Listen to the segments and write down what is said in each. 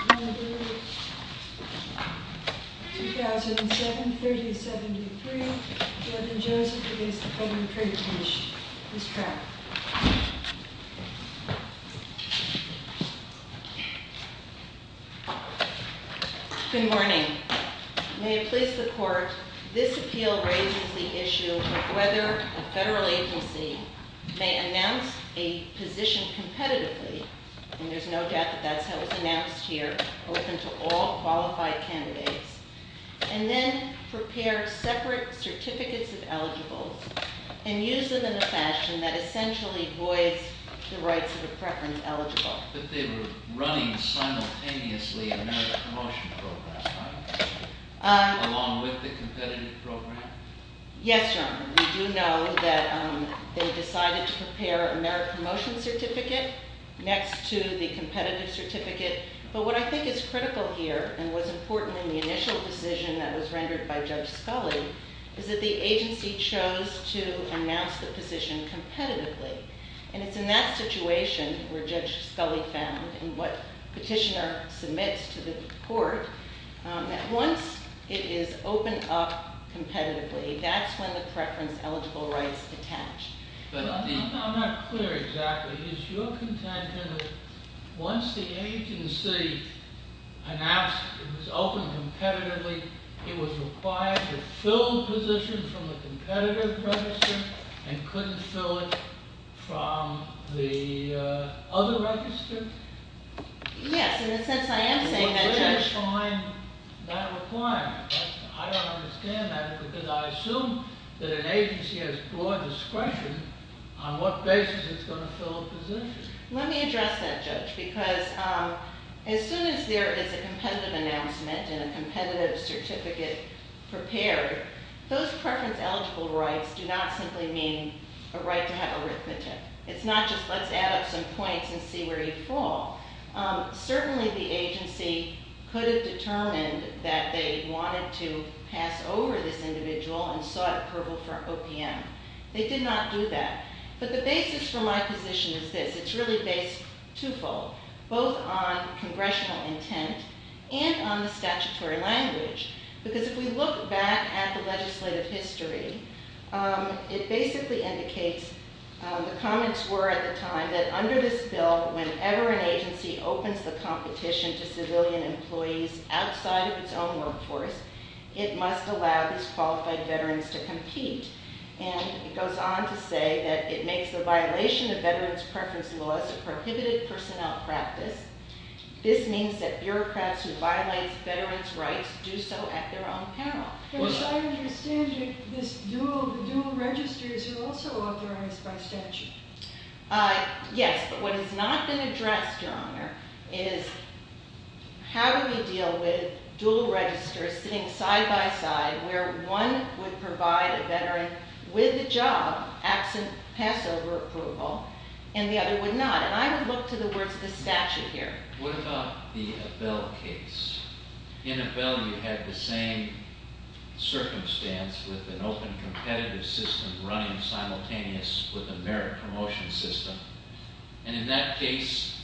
Number 2007-3073, Jordan Joseph v. the Public Trade Commission. Ms. Trapp. Good morning. May it please the Court, this appeal raises the issue of whether a federal agency may announce a position competitively, and there's no doubt that that's how it's announced here, open to all qualified candidates, and then prepare separate certificates of eligibles, and use them in a fashion that essentially voids the rights of the preference eligible. But they were running simultaneously a merit promotion program, right? Along with the competitive program? Yes, Your Honor, we do know that they decided to prepare a merit promotion certificate next to the competitive certificate, but what I think is critical here, and what's important in the initial decision that was rendered by Judge Scully, is that the agency chose to announce the position competitively, and it's in that situation where Judge Scully found, and what petitioner submits to the Court, that once it is opened up competitively, that's when the preference eligible rights attach. I'm not clear exactly. Is your contention that once the agency announced it was open competitively, it was required to fill the position from the competitive register, and couldn't fill it from the other register? Yes, in the sense that I am saying that, Judge. What would define that requirement? I don't understand that, because I assume that an agency has broad discretion on what basis it's going to fill a position. Let me address that, Judge, because as soon as there is a competitive announcement and a competitive certificate prepared, those preference eligible rights do not simply mean a right to have arithmetic. It's not just let's add up some points and see where you fall. Certainly the agency could have determined that they wanted to pass over this individual and sought approval for OPM. They did not do that, but the basis for my position is this. It's really based twofold, both on congressional intent and on the statutory language, because if we look back at the legislative history, it basically indicates, the comments were at the time, that under this bill, whenever an agency opens the competition to civilian employees outside of its own workforce, it must allow these qualified veterans to compete. And it goes on to say that it makes the violation of veterans' preference laws a prohibited personnel practice. This means that bureaucrats who violate veterans' rights do so at their own peril. But as I understand it, the dual registers are also authorized by statute. Yes, but what has not been addressed, Your Honor, is how do we deal with dual registers sitting side by side, where one would provide a veteran with a job, absent pass over approval, and the other would not? And I would look to the words of the statute here. What about the Abell case? In Abell, you had the same circumstance with an open competitive system running simultaneous with a merit promotion system. And in that case,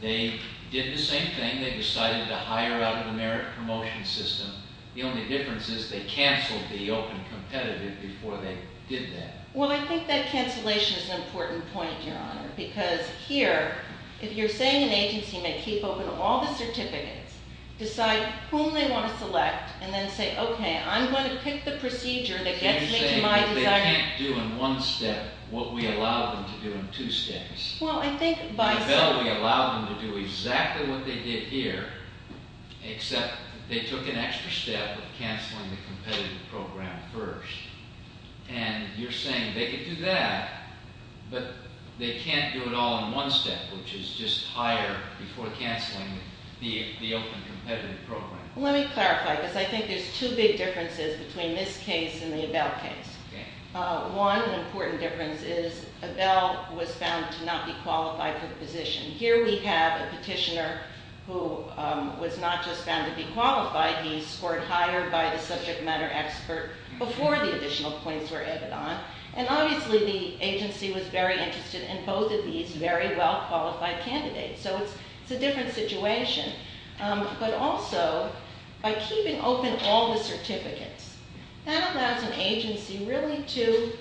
they did the same thing. They decided to hire out of the merit promotion system. The only difference is they canceled the open competitive before they did that. Well, I think that cancellation is an important point, Your Honor, because here, if you're saying an agency may keep open all the certificates, decide whom they want to select, and then say, okay, I'm going to pick the procedure that gets me to my desired- You're saying that they can't do in one step what we allowed them to do in two steps. Well, I think by- In Abell, we allowed them to do exactly what they did here, except they took an extra step of canceling the competitive program first. And you're saying they could do that, but they can't do it all in one step, which is just hire before canceling the open competitive program. Let me clarify, because I think there's two big differences between this case and the Abell case. One important difference is Abell was found to not be qualified for the position. Here we have a petitioner who was not just found to be qualified. He scored higher by the subject matter expert before the additional points were added on. And obviously, the agency was very interested in both of these very well-qualified candidates. So it's a different situation. But also, by keeping open all the certificates, that allows an agency really to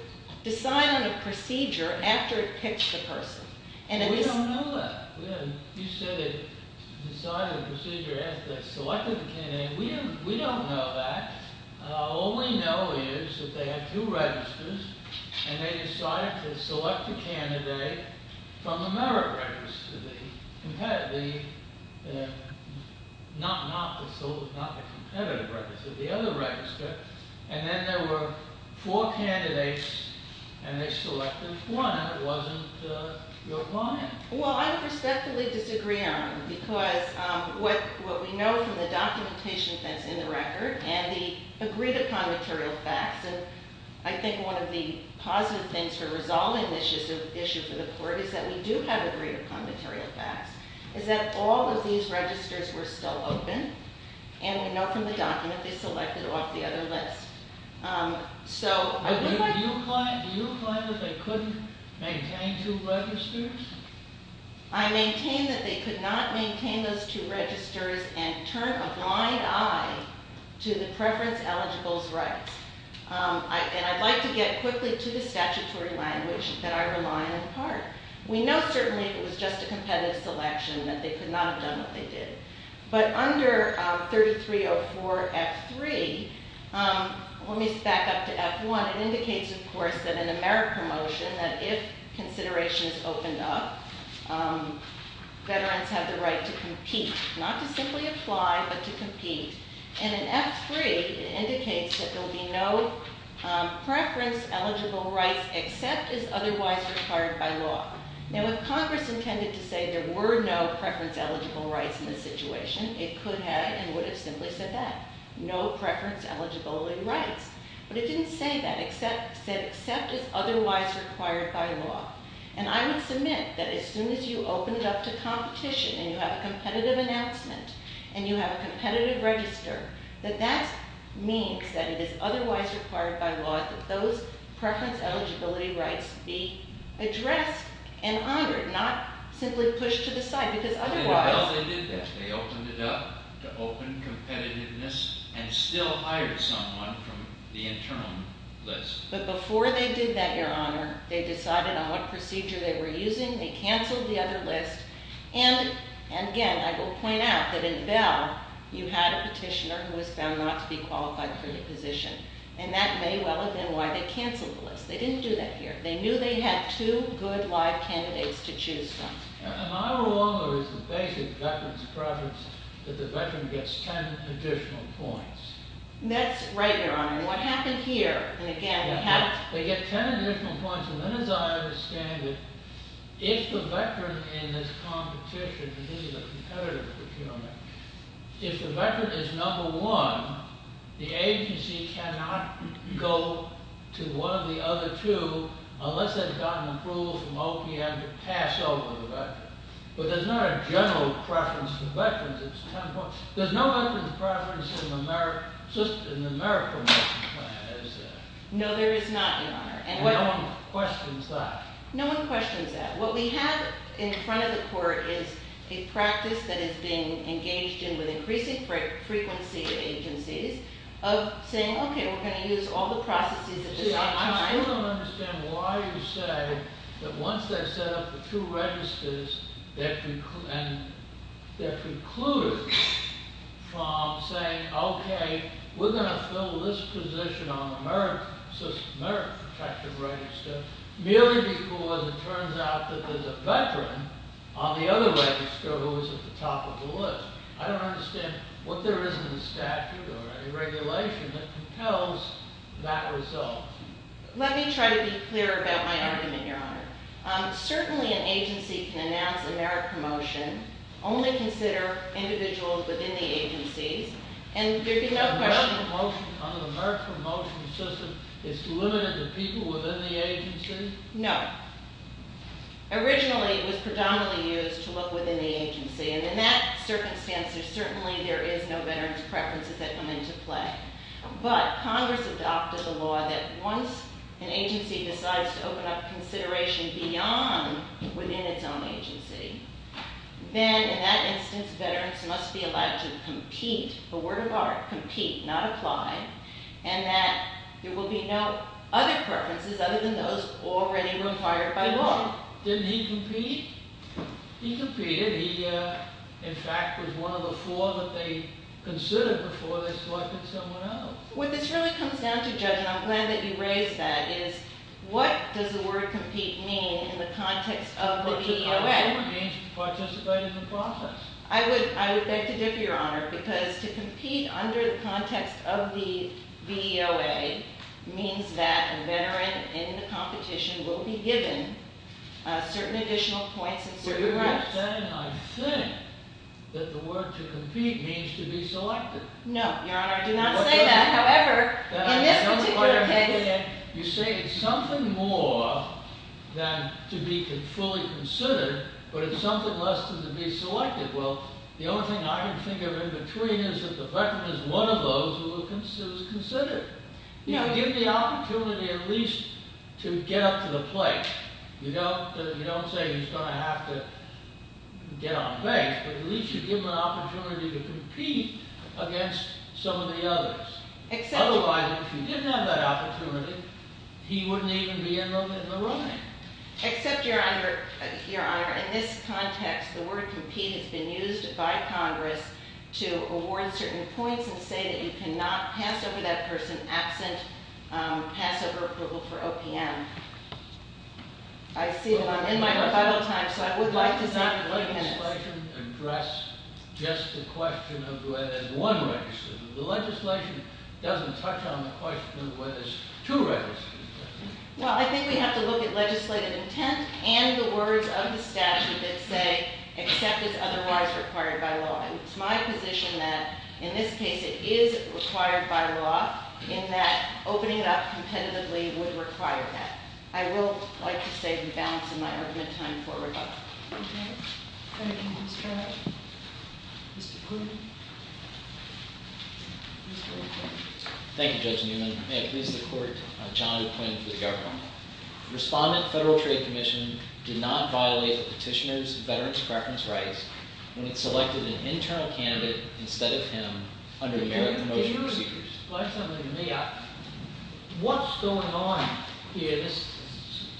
decide on a procedure after it picks the person. We don't know that. You said they decided on a procedure after they selected the candidate. We don't know that. All we know is that they had two registers, and they decided to select a candidate from the merit register, not the competitive register, the other register. And then there were four candidates, and they selected one, and it wasn't your client. Well, I would respectfully disagree on it, because what we know from the documentation that's in the record and the agreed-upon material facts, and I think one of the positive things for resolving this issue for the court is that we do have agreed-upon material facts, is that all of these registers were still open, and we know from the document they selected off the other list. Do you imply that they couldn't maintain two registers? I maintain that they could not maintain those two registers and turn a blind eye to the preference eligibles' rights. And I'd like to get quickly to the statutory language that I rely on in part. We know certainly it was just a competitive selection, that they could not have done what they did. But under 3304 F-3, let me back up to F-1. It indicates, of course, that in a merit promotion, that if consideration is opened up, veterans have the right to compete, not to simply apply, but to compete. And in F-3, it indicates that there will be no preference eligible rights except as otherwise required by law. Now, if Congress intended to say there were no preference eligible rights in this situation, it could have and would have simply said that. No preference eligibility rights. But it didn't say that. It said except as otherwise required by law. And I would submit that as soon as you open it up to competition, and you have a competitive announcement, and you have a competitive register, that that means that it is otherwise required by law that those preference eligibility rights be addressed and honored, not simply pushed to the side, because otherwise- In the bill, they did that. They opened it up to open competitiveness and still hired someone from the internal list. But before they did that, Your Honor, they decided on what procedure they were using. They canceled the other list. And, again, I will point out that in the bill, you had a petitioner who was found not to be qualified for the position. And that may well have been why they canceled the list. They didn't do that here. They knew they had two good live candidates to choose from. And I will argue as the basic veterans preference that the veteran gets ten additional points. That's right, Your Honor. And what happened here, and, again, we have- They get ten additional points, and then, as I understand it, if the veteran in this competition, and this is a competitive procurement, if the veteran is number one, the agency cannot go to one of the other two unless they've gotten approval from OPM to pass over the veteran. But there's not a general preference for veterans. It's ten points. There's no veterans preference in the merit promotion plan, is there? No, there is not, Your Honor. And no one questions that? No one questions that. What we have in front of the court is a practice that is being engaged in with increasing frequency agencies of saying, okay, we're going to use all the processes at the same time. See, I still don't understand why you say that once they set up the two registers, and they're precluded from saying, okay, we're going to fill this position on the merit protective register, merely because it turns out that there's a veteran on the other register who is at the top of the list. I don't understand what there is in the statute or any regulation that compels that result. Let me try to be clearer about my argument, Your Honor. Certainly an agency can announce a merit promotion, only consider individuals within the agencies, and there is no question. A merit promotion system is limited to people within the agency? No. Originally it was predominantly used to look within the agency, and in that circumstance there certainly is no veterans preferences that come into play. But Congress adopted the law that once an agency decides to open up consideration beyond within its own agency, then in that instance veterans must be allowed to compete, for word of art, compete, not apply, and that there will be no other preferences other than those already required by law. Didn't he compete? He competed. He, in fact, was one of the four that they considered before they selected someone else. What this really comes down to, Judge, and I'm glad that you raised that, is what does the word compete mean in the context of the VEOA? Participating in the process. I would beg to differ, Your Honor, because to compete under the context of the VEOA means that a veteran in the competition will be given certain additional points and certain rights. I understand and I think that the word to compete means to be selected. No, Your Honor, I do not say that. However, in this particular case… You say it's something more than to be fully considered, but it's something less than to be selected. Well, the only thing I can think of in between is that the veteran is one of those who is considered. You can give the opportunity at least to get up to the plate. You don't say he's going to have to get on base, but at least you give him an opportunity to compete against some of the others. Otherwise, if he didn't have that opportunity, he wouldn't even be in the running. Except, Your Honor, in this context, the word compete has been used by Congress to award certain points and say that you cannot pass over that person absent pass over approval for OPM. I see that I'm in my rebuttal time, so I would like to stop for a few minutes. The legislation addressed just the question of whether there's one registry. The legislation doesn't touch on the question of whether there's two registries. Well, I think we have to look at legislative intent and the words of the statute that say except as otherwise required by law. It's my position that in this case it is required by law in that opening it up competitively would require that. I will like to say we balance in my argument time for rebuttal. Thank you, Judge Newman. May it please the Court, I'm John Quinn for the government. Respondent Federal Trade Commission did not violate the petitioner's veteran's preference rights when it selected an internal candidate instead of him under the merit promotion procedures. Can you explain something to me? What's going on here? This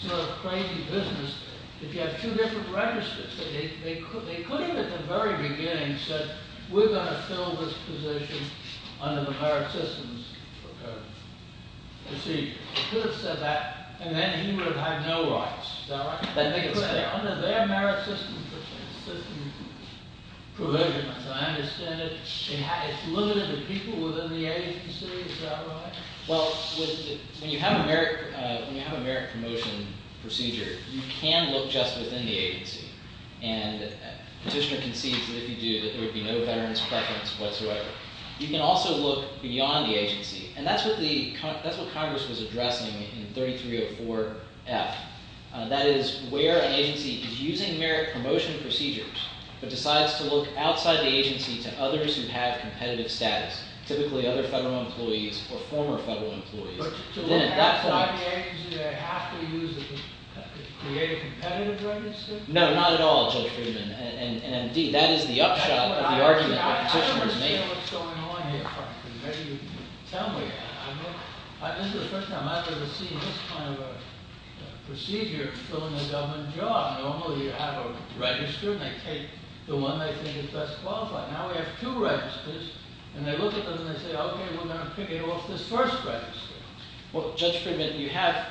sort of crazy business. If you have two different registers, they could have at the very beginning said we're going to fill this position under the merit systems procedure. They could have said that and then he would have had no rights. Is that right? Under their merit system provision, I understand it's limited to people within the agency. Is that right? Well, when you have a merit promotion procedure, you can look just within the agency. And petitioner concedes that if you do that there would be no veteran's preference whatsoever. You can also look beyond the agency. And that's what Congress was addressing in 3304F. That is where an agency is using merit promotion procedures but decides to look outside the agency to others who have competitive status, typically other federal employees or former federal employees. But to look outside the agency, they have to use the competitive register? No, not at all, Judge Friedman. And, indeed, that is the upshot of the argument the petitioner has made. I've never seen what's going on here. Maybe you can tell me. This is the first time I've ever seen this kind of a procedure filling a government job. Normally you have a register and they take the one they think is best qualified. Now we have two registers and they look at them and they say, okay, we're going to pick it off this first register. Well, Judge Friedman, you have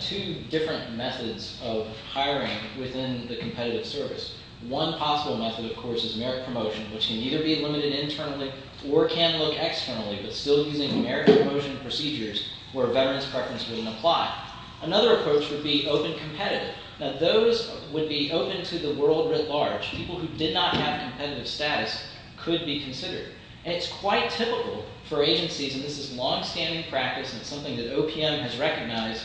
two different methods of hiring within the competitive service. One possible method, of course, is merit promotion, which can either be limited internally or can look externally but still using merit promotion procedures where a veteran's preference wouldn't apply. Another approach would be open competitive. Now those would be open to the world at large. People who did not have competitive status could be considered. And it's quite typical for agencies, and this is longstanding practice and it's something that OPM has recognized,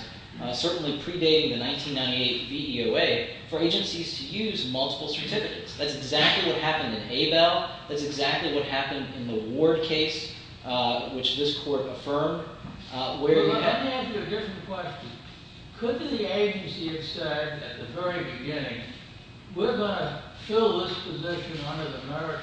certainly predating the 1998 VEOA, for agencies to use multiple certificates. That's exactly what happened in Abel. That's exactly what happened in the Ward case, which this court affirmed. Let me ask you a different question. Could the agency have said at the very beginning, we're going to fill this position under the merit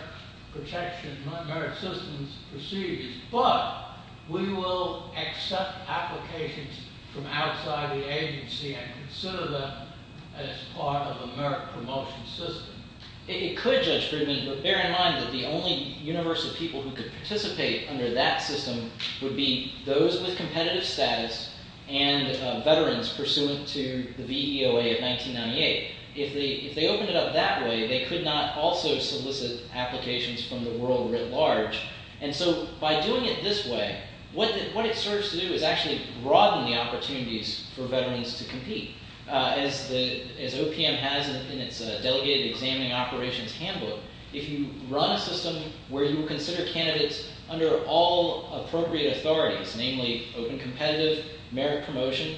protection, merit systems procedures, but we will accept applications from outside the agency and consider them as part of a merit promotion system? It could, Judge Friedman, but bear in mind that the only universe of people who could participate under that system would be those with competitive status and veterans pursuant to the VEOA of 1998. If they opened it up that way, they could not also solicit applications from the world writ large. And so by doing it this way, what it serves to do is actually broaden the opportunities for veterans to compete. As OPM has in its delegated examining operations handbook, if you run a system where you consider candidates under all appropriate authorities, namely open competitive, merit promotion,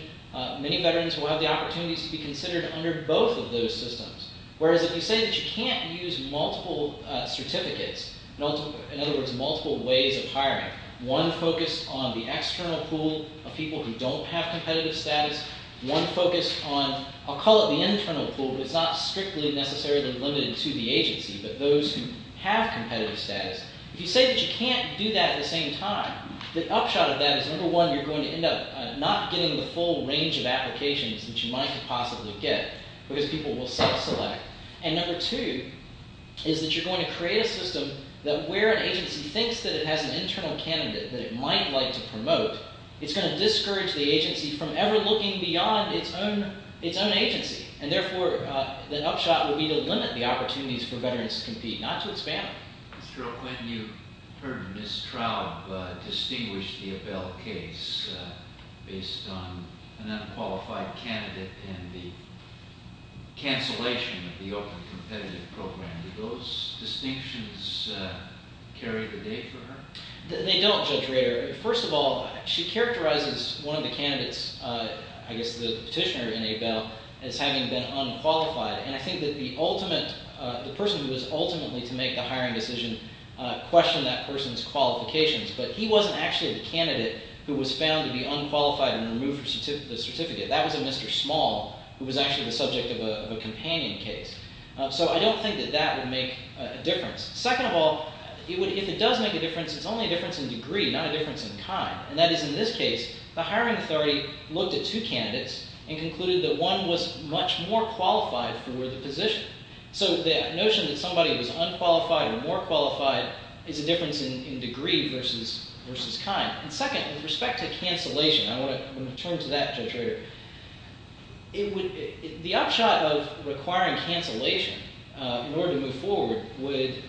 many veterans will have the opportunities to be considered under both of those systems. Whereas if you say that you can't use multiple certificates, in other words, multiple ways of hiring, one focused on the external pool of people who don't have competitive status, one focused on, I'll call it the internal pool, but it's not strictly necessarily limited to the agency, but those who have competitive status, if you say that you can't do that at the same time, the upshot of that is, number one, you're going to end up not getting the full range of applications that you might possibly get because people will self-select. And number two is that you're going to create a system that where an agency thinks that it has an internal candidate that it might like to promote, it's going to discourage the agency from ever looking beyond its own agency. And therefore, the upshot will be to limit the opportunities for veterans to compete, not to expand them. Mr. O'Quinn, you heard Ms. Traub distinguish the Abell case based on an unqualified candidate and the cancellation of the open competitive program. Do those distinctions carry the day for her? They don't, Judge Rader. First of all, she characterizes one of the candidates, I guess the petitioner in Abell, as having been unqualified. And I think that the person who was ultimately to make the hiring decision questioned that person's qualifications. But he wasn't actually the candidate who was found to be unqualified and removed from the certificate. That was a Mr. Small who was actually the subject of a companion case. So I don't think that that would make a difference. Second of all, if it does make a difference, it's only a difference in degree, not a difference in kind. And that is, in this case, the hiring authority looked at two candidates and concluded that one was much more qualified for the position. So the notion that somebody was unqualified or more qualified is a difference in degree versus kind. And second, with respect to cancellation, I want to turn to that, Judge Rader. The upshot of requiring cancellation in order to move forward would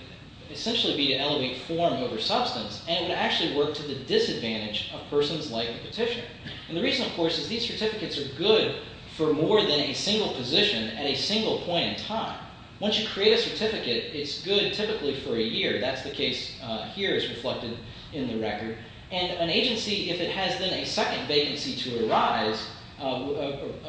essentially be to elevate form over substance. And it would actually work to the disadvantage of persons like the petitioner. And the reason, of course, is these certificates are good for more than a single position at a single point in time. Once you create a certificate, it's good typically for a year. That's the case here as reflected in the record. And an agency, if it has then a second vacancy to arise of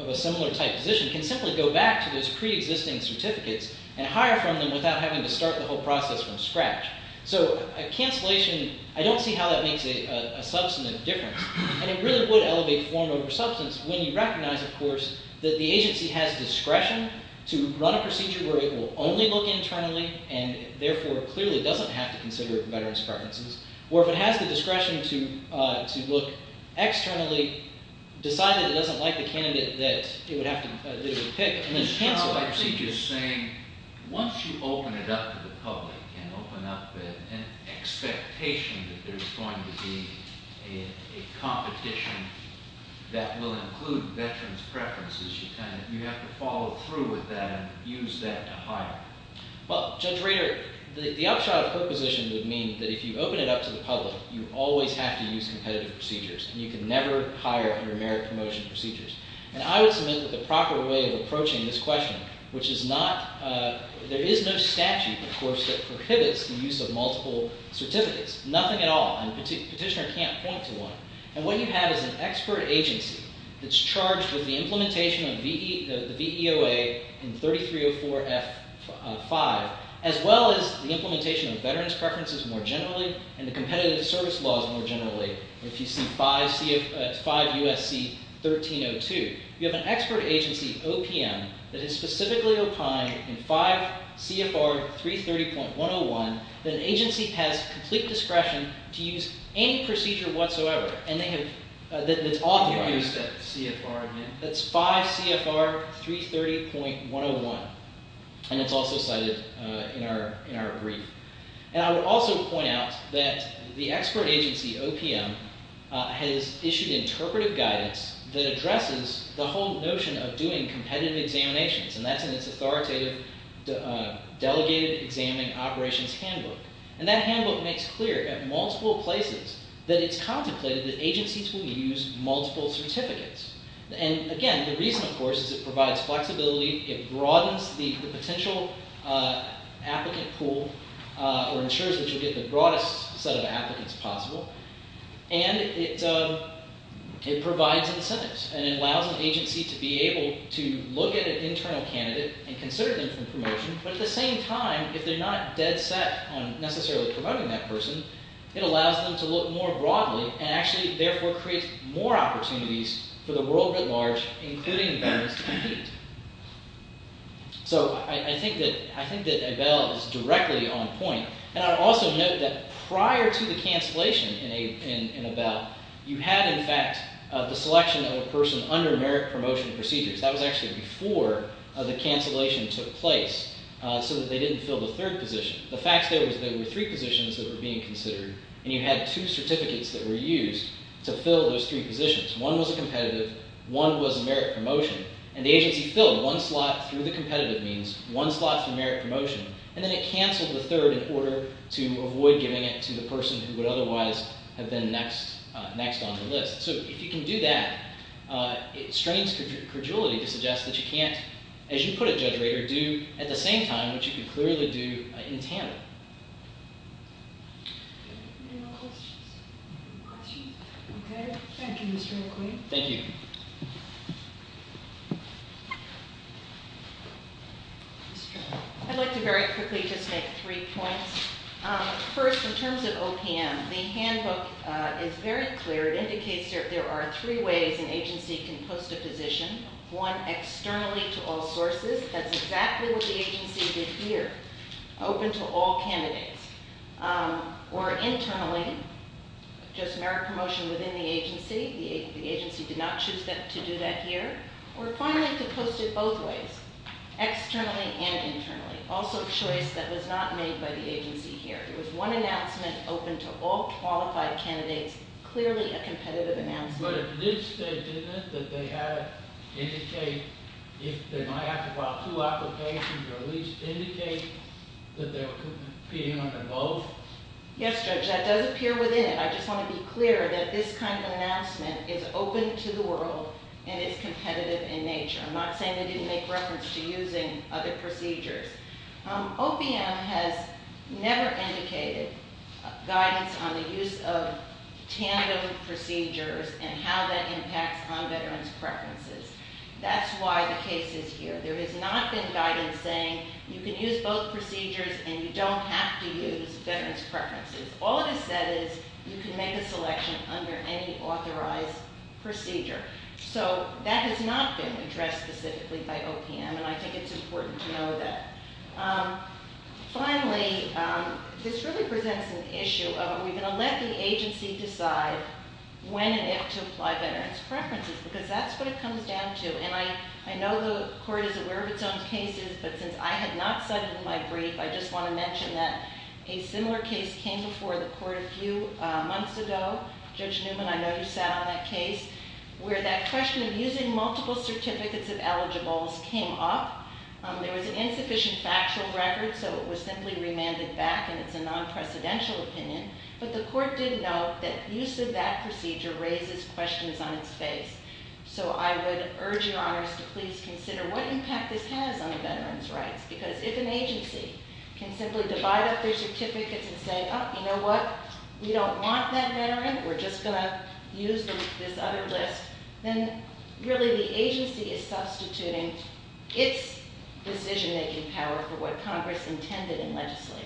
a similar type position, can simply go back to those preexisting certificates and hire from them without having to start the whole process from scratch. So cancellation, I don't see how that makes a substantive difference. And it really would elevate form over substance when you recognize, of course, that the agency has discretion to run a procedure where it will only look internally and therefore clearly doesn't have to consider veterans' preferences. Or if it has the discretion to look externally, decide that it doesn't like the candidate that it would have to pick, and then cancel that procedure. Once you open it up to the public and open up an expectation that there's going to be a competition that will include veterans' preferences, you have to follow through with that and use that to hire. Well, Judge Rader, the upshot of her position would mean that if you open it up to the public, you always have to use competitive procedures. And you can never hire under merit promotion procedures. And I would submit that the proper way of approaching this question, which is not – there is no statute, of course, that prohibits the use of multiple certificates. Nothing at all. And the petitioner can't point to one. And what you have is an expert agency that's charged with the implementation of the VEOA in 3304F5, as well as the implementation of veterans' preferences more generally and the competitive service laws more generally. If you see 5 U.S.C. 1302, you have an expert agency, OPM, that is specifically opined in 5 CFR 330.101 that an agency has complete discretion to use any procedure whatsoever. And they have – that's all they've used. I don't understand CFR. That's 5 CFR 330.101. And it's also cited in our brief. And I would also point out that the expert agency, OPM, has issued interpretive guidance that addresses the whole notion of doing competitive examinations. And that's in its authoritative delegated examining operations handbook. And that handbook makes clear at multiple places that it's contemplated that agencies will use multiple certificates. And again, the reason, of course, is it provides flexibility. It broadens the potential applicant pool or ensures that you'll get the broadest set of applicants possible. And it provides incentives. And it allows an agency to be able to look at an internal candidate and consider them for promotion. But at the same time, if they're not dead set on necessarily promoting that person, it allows them to look more broadly and actually, therefore, creates more opportunities for the world at large, including veterans, to compete. So I think that Abell is directly on point. And I would also note that prior to the cancellation in Abell, you had, in fact, the selection of a person under merit promotion procedures. That was actually before the cancellation took place so that they didn't fill the third position. The fact there was there were three positions that were being considered, and you had two certificates that were used to fill those three positions. One was a competitive. One was a merit promotion. And the agency filled one slot through the competitive means, one slot through merit promotion, and then it canceled the third in order to avoid giving it to the person who would otherwise have been next on the list. So if you can do that, it strains credulity to suggest that you can't, as you put it, Judge Rader, do at the same time what you could clearly do in TANF. Any more questions? Okay. Thank you, Mr. McQueen. Thank you. I'd like to very quickly just make three points. First, in terms of OPM, the handbook is very clear. It indicates there are three ways an agency can post a position, one, externally to all sources. That's exactly what the agency did here, open to all candidates. Or internally, just merit promotion within the agency. The agency did not choose to do that here. Or finally, to post it both ways, externally and internally, also a choice that was not made by the agency here. It was one announcement open to all qualified candidates, clearly a competitive announcement. But it did say, didn't it, that they had to indicate if they might have to file two applications or at least indicate that they were competing on them both? Yes, Judge, that does appear within it. I just want to be clear that this kind of announcement is open to the world and is competitive in nature. I'm not saying they didn't make reference to using other procedures. OPM has never indicated guidance on the use of tandem procedures and how that impacts on veterans' preferences. That's why the case is here. There has not been guidance saying you can use both procedures and you don't have to use veterans' preferences. All it has said is you can make a selection under any authorized procedure. So that has not been addressed specifically by OPM, and I think it's important to know that. Finally, this really presents an issue of are we going to let the agency decide when and if to apply veterans' preferences? Because that's what it comes down to. And I know the court is aware of its own cases, but since I have not cited in my brief, I just want to mention that a similar case came before the court a few months ago. Judge Newman, I know you sat on that case, where that question of using multiple certificates of eligibles came up. There was an insufficient factual record, so it was simply remanded back, and it's a non-precedential opinion. But the court did note that use of that procedure raises questions on its face. So I would urge your honors to please consider what impact this has on the veterans' rights. Because if an agency can simply divide up their certificates and say, you know what, we don't want that veteran, we're just going to use this other list, then really the agency is substituting its decision-making power for what Congress intended and legislated.